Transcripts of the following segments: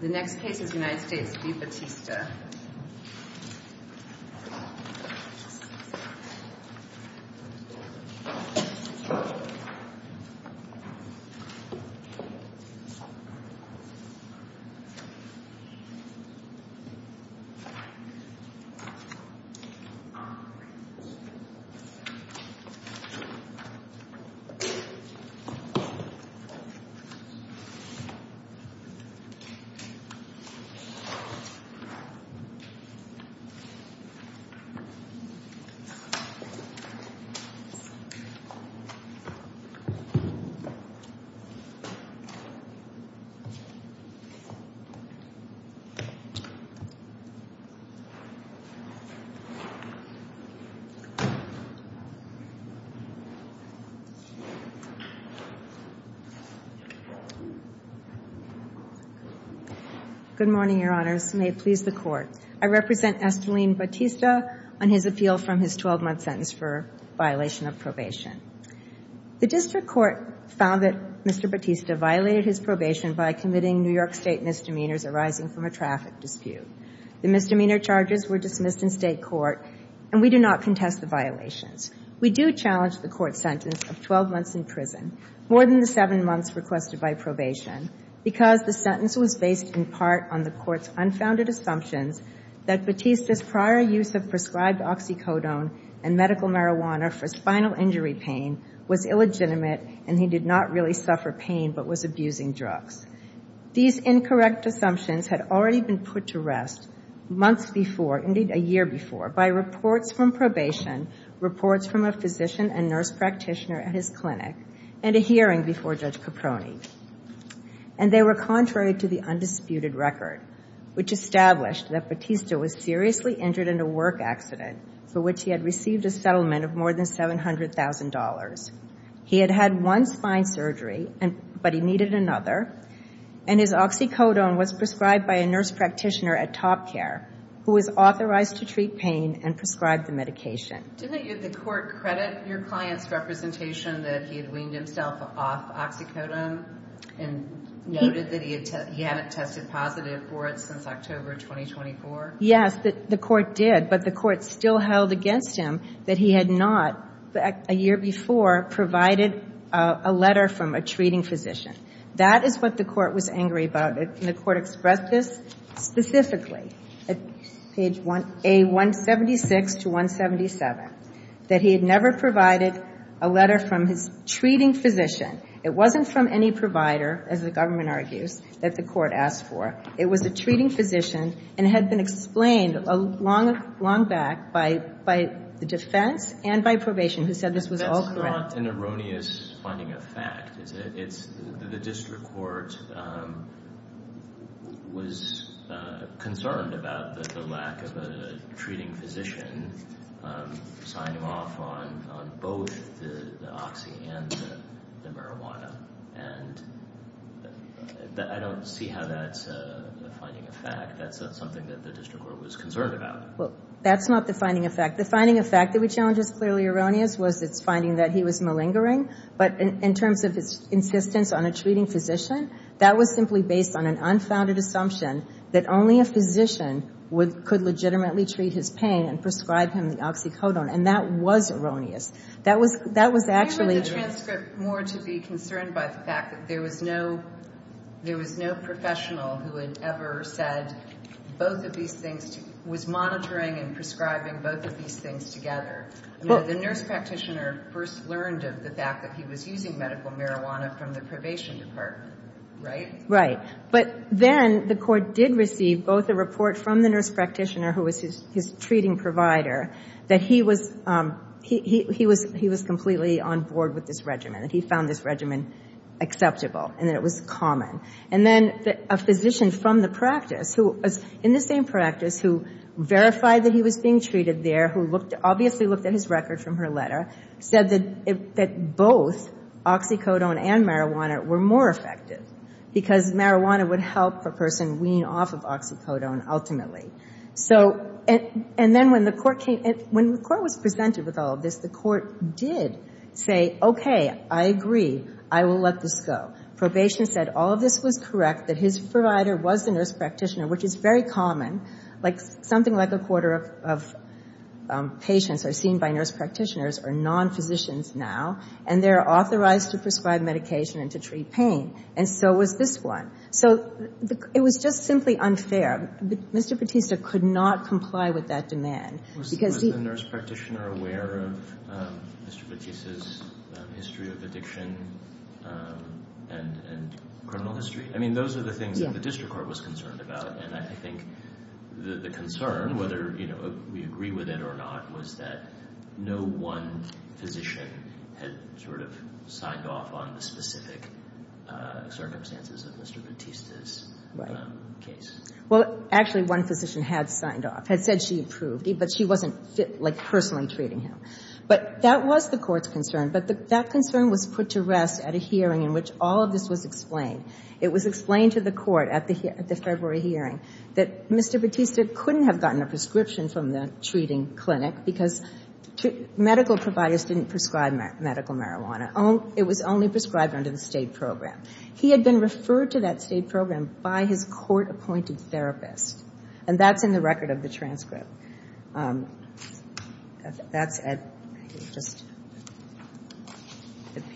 The next case is United States v. Batista. The next case is United States v. Batista. Good morning, Your Honors. May it please the Court. I represent Esteline Batista on his appeal from his 12-month sentence for violation of probation. The district court found that Mr. Batista violated his probation by committing New York State misdemeanors arising from a traffic dispute. The misdemeanor charges were dismissed in state court, and we do not contest the violations. We do challenge the court's sentence of 12 months in prison, more than the seven months requested by probation, because the sentence was based in part on the court's unfounded assumptions that Batista's prior use of prescribed oxycodone and medical marijuana for spinal injury pain was illegitimate, and he did not really suffer pain but was abusing drugs. These incorrect assumptions had already been put to rest months before, indeed a year before, by reports from probation, reports from a physician and nurse practitioner at his clinic, and a hearing before Judge Caproni. And they were contrary to the undisputed record, which established that Batista was seriously injured in a work accident for which he had received a settlement of more than $700,000. He had had one spine surgery, but he needed another. And his oxycodone was prescribed by a nurse practitioner at Top Care, who was authorized to treat pain and prescribe the medication. Didn't the court credit your client's representation that he had weaned himself off oxycodone and noted that he hadn't tested positive for it since October 2024? Yes, the court did. But the court still held against him that he had not, a year before, provided a letter from a treating physician. That is what the court was angry about. And the court expressed this specifically at page 176 to 177, that he had never provided a letter from his treating physician. It wasn't from any provider, as the government argues, that the court asked for. It was a treating physician. And it had been explained long back by the defense and by probation, who said this was all correct. That's not an erroneous finding of fact, is it? The district court was concerned about the lack of a treating physician signing off on both the oxy and the marijuana. And I don't see how that's a finding of fact. That's not something that the district court was concerned about. Well, that's not the finding of fact. The finding of fact that we challenge is clearly erroneous was its finding that he was malingering. But in terms of its insistence on a treating physician, that was simply based on an unfounded assumption that only a physician could legitimately treat his pain and prescribe him the oxycodone. And that was erroneous. That was actually true. I read the transcript more to be concerned by the fact that there was no professional who had ever said both of these things, was monitoring and prescribing both of these things together. The nurse practitioner first learned of the fact that he was using medical marijuana from the probation department, right? Right. But then the court did receive both a report from the nurse practitioner, who was his treating provider, that he was completely on board with this regimen, that he found this regimen acceptable, and that it was common. And then a physician from the practice, who was in the same practice, who verified that he was being treated there, who obviously looked at his record from her letter, said that both oxycodone and marijuana were more effective, because marijuana would help a person wean off of oxycodone ultimately. And then when the court was presented with all of this, the court did say, OK, I agree. I will let this go. Probation said all of this was correct, that his provider was the nurse practitioner, which is very common. Something like a quarter of patients are seen by nurse practitioners or non-physicians now, and they're authorized to prescribe medication and to treat pain. And so was this one. So it was just simply unfair. Mr. Bautista could not comply with that demand, because he Was the nurse practitioner aware of Mr. Bautista's history of addiction and criminal history? I mean, those are the things that the district court was concerned about. And I think the concern, whether we agree with it or not, was that no one physician had sort of signed off on the specific circumstances of Mr. Bautista's case. Well, actually, one physician had signed off, had said she approved it. But she wasn't personally treating him. But that was the court's concern. But that concern was put to rest at a hearing in which all of this was explained. It was explained to the court at the February hearing that Mr. Bautista couldn't have gotten a prescription from the treating clinic, because medical providers didn't prescribe medical marijuana. It was only prescribed under the state program. He had been referred to that state program by his court-appointed therapist. And that's in the record of the transcript. That's at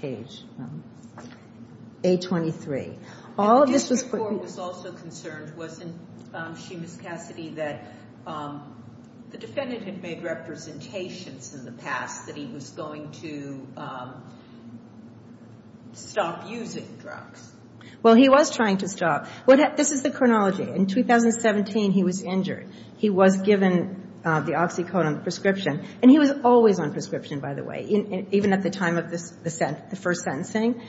page 823. All of this was put to rest. And the district court was also concerned, wasn't she, Ms. Cassidy, that the defendant had made representations in the past that he was going to stop using drugs? Well, he was trying to stop. This is the chronology. In 2017, he was injured. He was given the oxycodone prescription. And he was always on prescription, by the way, even at the time of the first sentencing.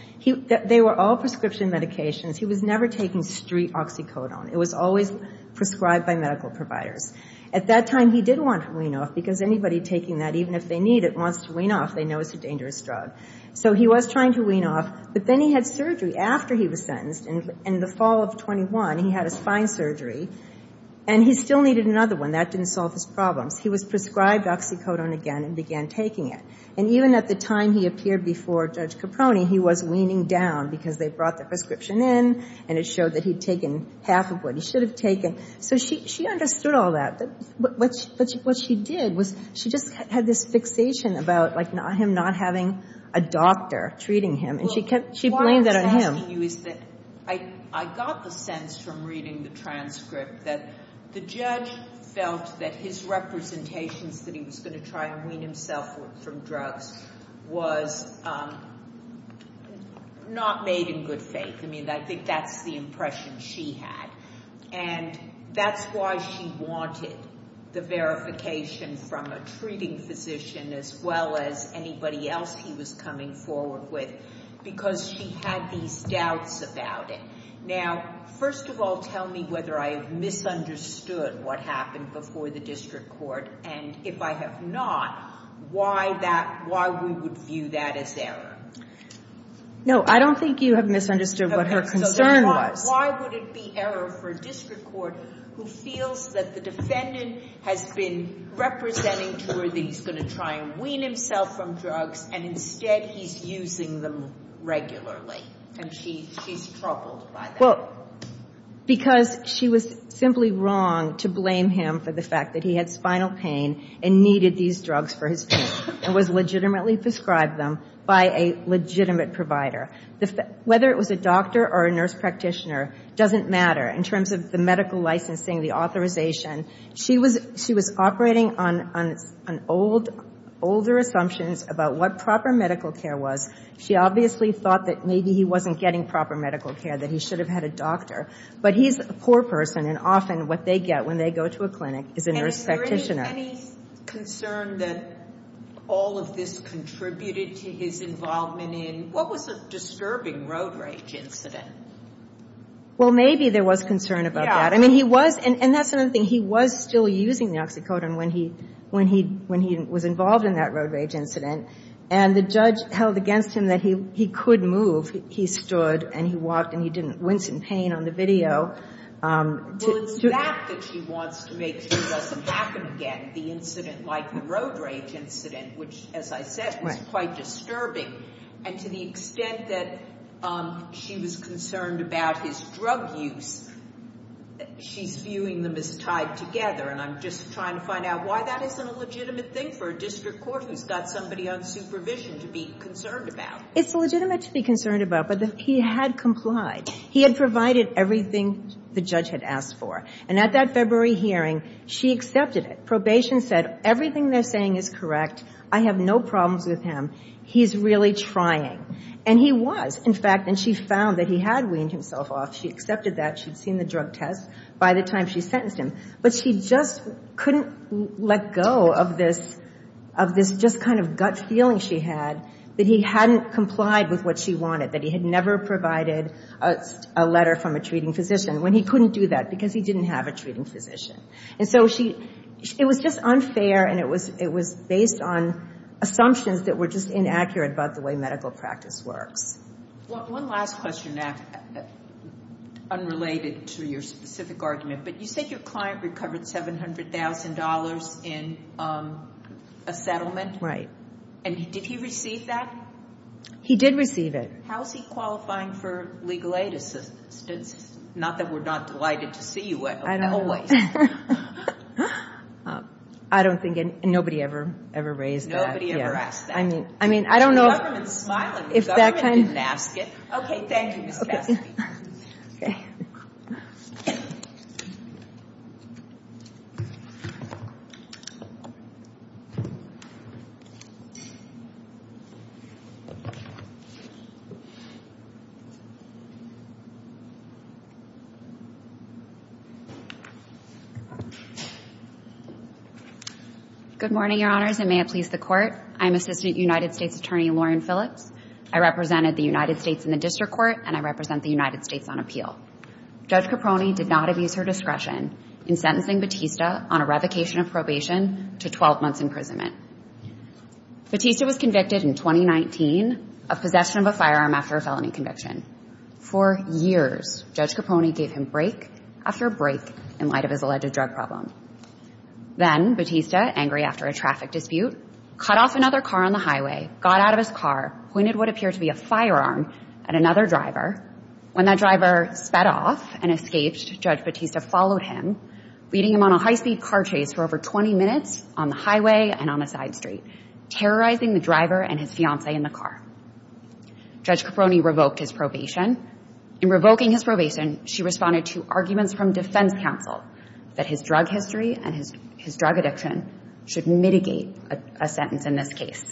They were all prescription medications. He was never taking street oxycodone. It was always prescribed by medical providers. At that time, he did want to wean off, because anybody taking that, even if they need it, wants to wean off, they know it's a dangerous drug. So he was trying to wean off. But then he had surgery. After he was sentenced, in the fall of 21, he had a spine surgery. And he still needed another one. That didn't solve his problems. He was prescribed oxycodone again and began taking it. And even at the time he appeared before Judge Caproni, he was weaning down, because they brought the prescription in, and it showed that he'd taken half of what he should have taken. So she understood all that. But what she did was she just had this fixation about him not having a doctor treating him. And she blamed that on him. Well, what I'm asking you is that I got the sense from reading the transcript that the judge felt that his representations that he was going to try and wean himself from drugs was not made in good faith. I mean, I think that's the impression she had. And that's why she wanted the verification from a treating physician, as well as anybody else he was coming forward with, because she had these doubts about it. Now, first of all, tell me whether I have misunderstood what happened before the district court. And if I have not, why we would view that as error? No, I don't think you have misunderstood what her concern was. Why would it be error for a district court who feels that the defendant has been representing to her that he's going to try and wean himself from drugs, and instead he's using them regularly? And she's troubled by that. Because she was simply wrong to blame him for the fact that he had spinal pain and needed these drugs for his pain, and was legitimately prescribed them by a legitimate provider. Whether it was a doctor or a nurse practitioner doesn't matter in terms of the medical licensing, She was operating on older assumptions about what proper medical care was. She obviously thought that maybe he wasn't getting proper medical care, that he should have had a doctor. But he's a poor person. And often, what they get when they go to a clinic is a nurse practitioner. And is there any concern that all of this contributed to his involvement in? What was a disturbing road rage incident? Well, maybe there was concern about that. I mean, he was. And that's another thing. He was still using the oxycodone when he was involved in that road rage incident. And the judge held against him that he could move. He stood, and he walked, and he didn't wince in pain on the video. Well, it's that that she wants to make sure doesn't happen again, the incident like the road rage incident, which, as I said, was quite disturbing. And to the extent that she was concerned about his drug use, she's viewing them as tied together. And I'm just trying to find out why that isn't a legitimate thing for a district court who's got somebody on supervision to be concerned about. It's legitimate to be concerned about, but he had complied. He had provided everything the judge had asked for. And at that February hearing, she accepted it. Probation said, everything they're saying is correct. I have no problems with him. He's really trying. And he was, in fact. And she found that he had weaned himself off. She accepted that. She'd seen the drug test by the time she sentenced him. But she just couldn't let go of this just kind of gut feeling she had that he hadn't complied with what she wanted, that he had never provided a letter from a treating physician, when he couldn't do that because he didn't have a treating physician. And so it was just unfair, and it was based on assumptions that were just inaccurate about the way medical practice works. One last question, Anne, unrelated to your specific argument. But you said your client recovered $700,000 in a settlement. Right. And did he receive that? He did receive it. How is he qualifying for legal aid assistance? Not that we're not delighted to see you, but always. Yeah. I don't think anybody ever raised that. Nobody ever asked that. I mean, I don't know if that kind of. The government's smiling. The government didn't ask it. OK, thank you, Ms. Cassidy. Good morning, Your Honors, and may it please the Court. I'm Assistant United States Attorney Lauren Phillips. I represented the United States in the district court, and I represent the United States on appeal. Judge Caprone did not abuse her discretion in sentencing Batista on a revocation of probation to 12 months imprisonment. Batista was convicted in 2019 of possession of a firearm after a felony conviction. For years, Judge Caprone gave him break after break in light of his election. Then, Batista, angry after a traffic dispute, cut off another car on the highway, got out of his car, pointed what appeared to be a firearm at another driver. When that driver sped off and escaped, Judge Batista followed him, leading him on a high-speed car chase for over 20 minutes on the highway and on a side street, terrorizing the driver and his fiancee in the car. Judge Caprone revoked his probation. In revoking his probation, she responded to arguments from defense counsel that his drug history and his drug addiction should mitigate a sentence in this case.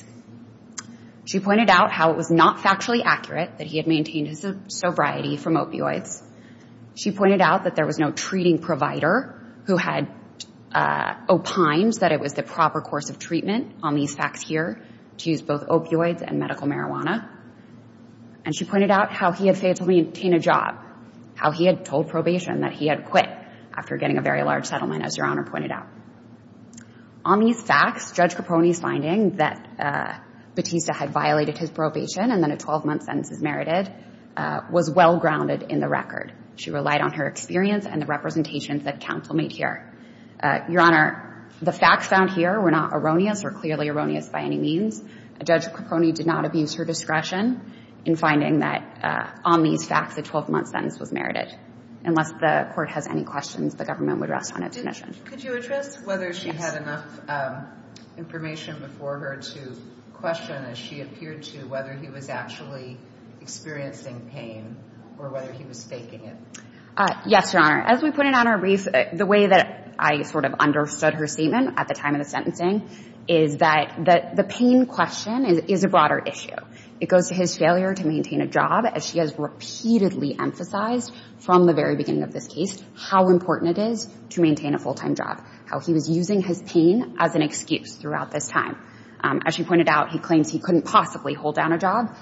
She pointed out how it was not factually accurate that he had maintained his sobriety from opioids. She pointed out that there was no treating provider who had opined that it was the proper course of treatment on these facts here to use both opioids and medical marijuana. And she pointed out how he had failed to maintain a job, how he had told probation that he had quit after getting a very large settlement, as Your Honor pointed out. On these facts, Judge Caprone's finding that Batista had violated his probation and that a 12-month sentence is merited was well-grounded in the record. She relied on her experience and the representations that counsel made here. Your Honor, the facts found here were not erroneous or clearly erroneous by any means. Judge Caprone did not abuse her discretion in finding that on these facts, a 12-month sentence was merited. Unless the court has any questions, the government would rest on its admission. Could you address whether she had enough information before her to question, as she appeared to, whether he was actually experiencing pain or whether he was faking it? Yes, Your Honor. As we put it on our brief, the way that I understood her statement at the time of the sentencing is that the pain question is a broader issue. It goes to his failure to maintain a job, as she has repeatedly emphasized from the very beginning of this case, how important it is to maintain a full-time job, how he was using his pain as an excuse throughout this time. As she pointed out, he claims he couldn't possibly hold down a job.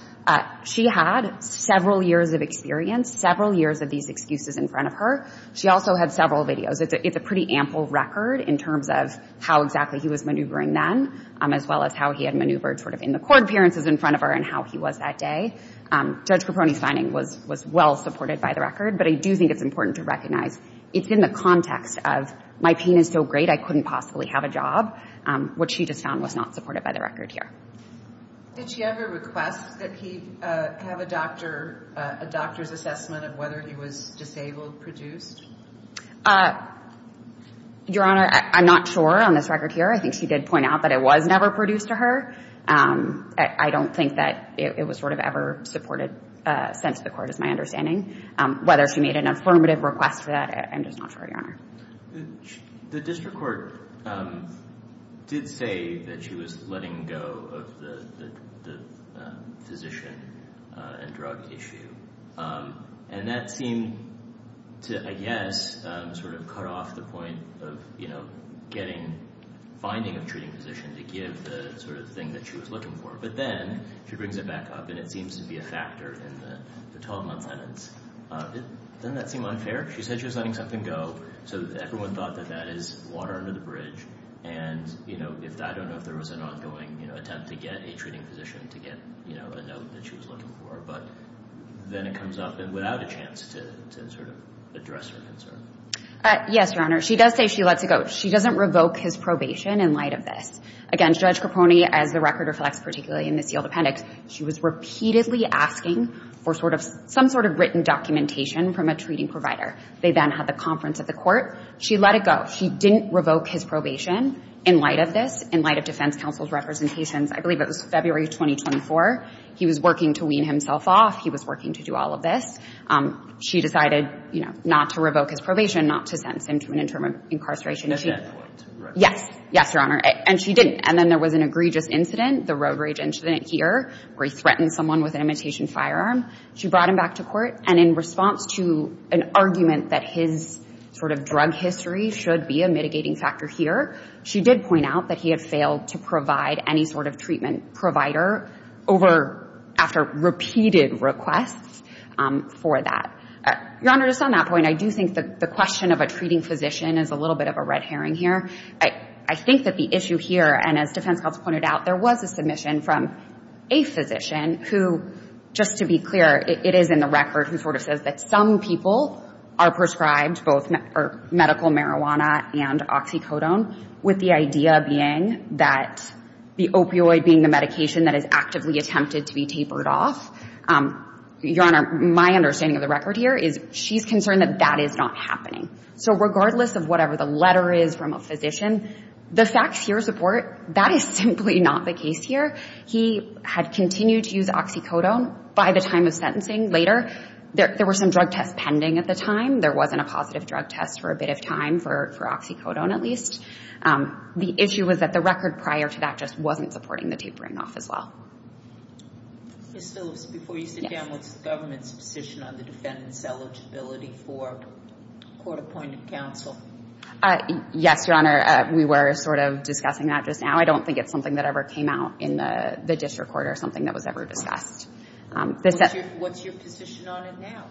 She had several years of experience, several years of these excuses in front of her. She also had several videos. It's a pretty ample record in terms of how exactly he was maneuvering then, as well as how he had maneuvered sort of in the court appearances in front of her and how he was that day. Judge Caprone's finding was well-supported by the record, but I do think it's important to recognize it's in the context of, my pain is so great, I couldn't possibly have a job, which she just found was not supported by the record here. Did she ever request that he have a doctor's assessment of whether he was disabled produced? Your Honor, I'm not sure on this record here. I think she did point out that it was never produced to her. I don't think that it was sort of ever supported since the court, is my understanding. Whether she made an affirmative request to that, I'm just not sure, Your Honor. The district court did say that she was letting go of the physician and drug issue. And that seemed to, I guess, sort of cut off the point of finding a treating physician to give the sort of thing that she was looking for. But then she brings it back up, and it seems to be a factor in the 12-month sentence. Doesn't that seem unfair? She said she was letting something go, so everyone thought that that is water under the bridge. And I don't know if there was an ongoing attempt to get a treating physician to get a note that she was looking for. But then it comes up, and without a chance to sort of address her concern. Yes, Your Honor. She does say she lets it go. She doesn't revoke his probation in light of this. Again, Judge Caponi, as the record reflects, particularly in the sealed appendix, she was repeatedly asking for some sort of written documentation from a treating provider. They then had the conference at the court. She let it go. She didn't revoke his probation in light of this, in light of defense counsel's representations. I believe it was February 2024. He was working to wean himself off. He was working to do all of this. She decided not to revoke his probation, not to sentence him to an interim incarceration. Does that point to Roe v. Wade? Yes. Yes, Your Honor. And she didn't. And then there was an egregious incident, the Roe v. Wade incident here, where he threatened someone with an imitation firearm. She brought him back to court. And in response to an argument that his sort of drug history should be a mitigating factor here, she did point out that he had failed to provide any sort of treatment provider after repeated requests for that. Your Honor, just on that point, I do think that the question of a treating physician is a little bit of a red herring here. I think that the issue here, and as defense counsel pointed out, there was a submission from a physician who, just to be clear, it is in the record who sort of says that some people are prescribed both medical marijuana and oxycodone, with the idea being that the opioid being the medication that is actively attempted to be tapered off. Your Honor, my understanding of the record here is she's concerned that that is not happening. So regardless of whatever the letter is from a physician, the facts here support that is simply not the case here. He had continued to use oxycodone by the time of sentencing later. There were some drug tests pending at the time. There wasn't a positive drug test for a bit of time for oxycodone, at least. The issue was that the record prior to that just wasn't supporting the tapering off as well. Ms. Phillips, before you sit down, what's the government's position on the defendant's eligibility for court-appointed counsel? Yes, Your Honor. We were sort of discussing that just now. I don't think it's something that ever came out in the district court or something that was ever discussed. What's your position on it now?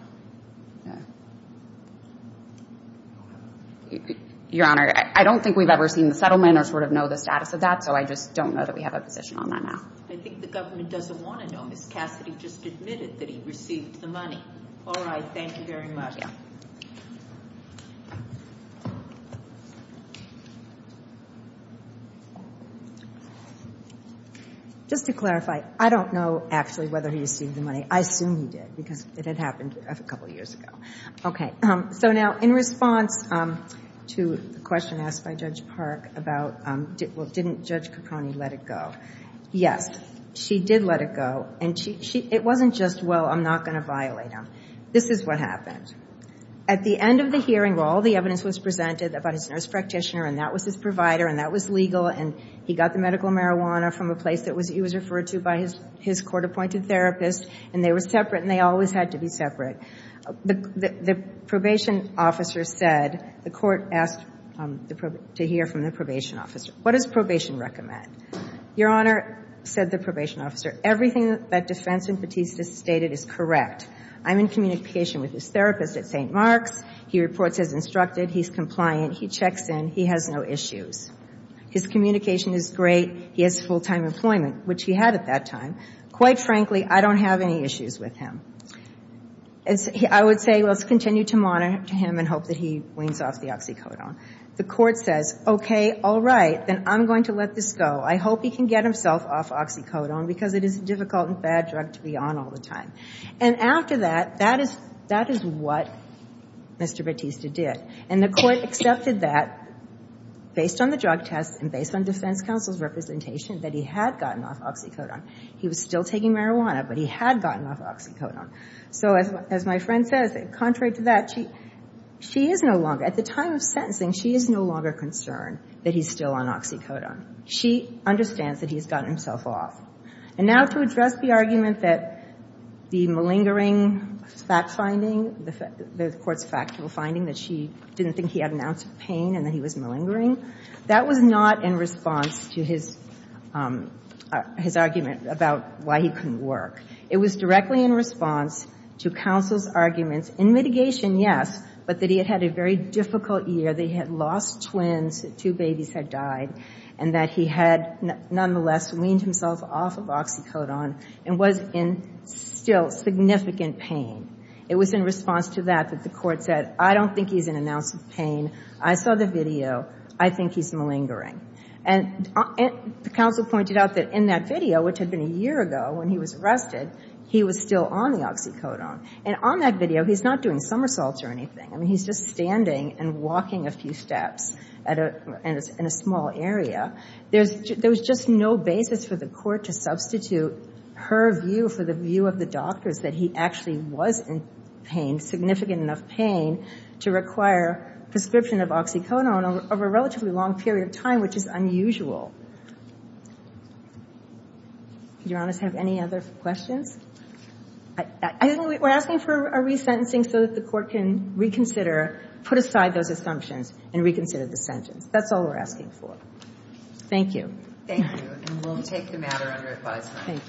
Your Honor, I don't think we've ever seen the settlement or sort of know the status of that. So I just don't know that we have a position on that now. I think the government doesn't want to know. Ms. Cassidy just admitted that he received the money. All right, thank you very much. Just to clarify, I don't know actually whether he received the money. I assume he did, because it had happened a couple of years ago. OK, so now in response to the question asked by Judge Park about, well, didn't Judge Caproni let it go? Yes, she did let it go. It wasn't just, well, I'm not going to violate him. This is what happened. At the end of the hearing, where all the evidence was presented about his nurse practitioner, and that was his provider, and that was legal, and he got the medical marijuana from a place that he was referred to by his court appointed therapist, and they were separate, and they always had to be separate, the probation officer said, the court asked to hear from the probation officer. What does probation recommend? Your Honor, said the probation officer, everything that defense impetus has stated is correct. I'm in communication with his therapist at St. Mark's. He reports as instructed. He's compliant. He checks in. He has no issues. His communication is great. He has full-time employment, which he had at that time. Quite frankly, I don't have any issues with him. I would say, let's continue to monitor him and hope that he wanes off the oxycodone. The court says, OK, all right, then I'm going to let this go. I hope he can get himself off oxycodone, because it is a difficult and bad drug to be on all the time. And after that, that is what Mr. Batista did. And the court accepted that, based on the drug tests and based on defense counsel's representation, that he had gotten off oxycodone. He was still taking marijuana, but he had gotten off oxycodone. So as my friend says, contrary to that, she is no longer, at the time of sentencing, she is no longer concerned that he's still on oxycodone. She understands that he's gotten himself off. And now to address the argument that the malingering fact finding, the court's factual finding, that she didn't think he had an ounce of pain and that he was malingering, that was not in response to his argument about why he couldn't work. It was directly in response to counsel's arguments, in mitigation, yes, but that he had had a very difficult year. They had lost twins. Two babies had died. And that he had, nonetheless, weaned himself off of oxycodone and was in still significant pain. It was in response to that that the court said, I don't think he's in an ounce of pain. I saw the video. I think he's malingering. And the counsel pointed out that in that video, which had been a year ago when he was arrested, he was still on the oxycodone. And on that video, he's not doing somersaults or anything. I mean, he's just standing and walking a few steps and it's in a small area. There was just no basis for the court to substitute her view for the view of the doctors that he actually was in pain, significant enough pain, to require prescription of oxycodone over a relatively long period of time, which is unusual. Your Honor, do you have any other questions? We're asking for a resentencing so that the court can reconsider, put aside those assumptions, and reconsider the sentence. That's all we're asking for. Thank you. Thank you. And we'll take the matter under advisement.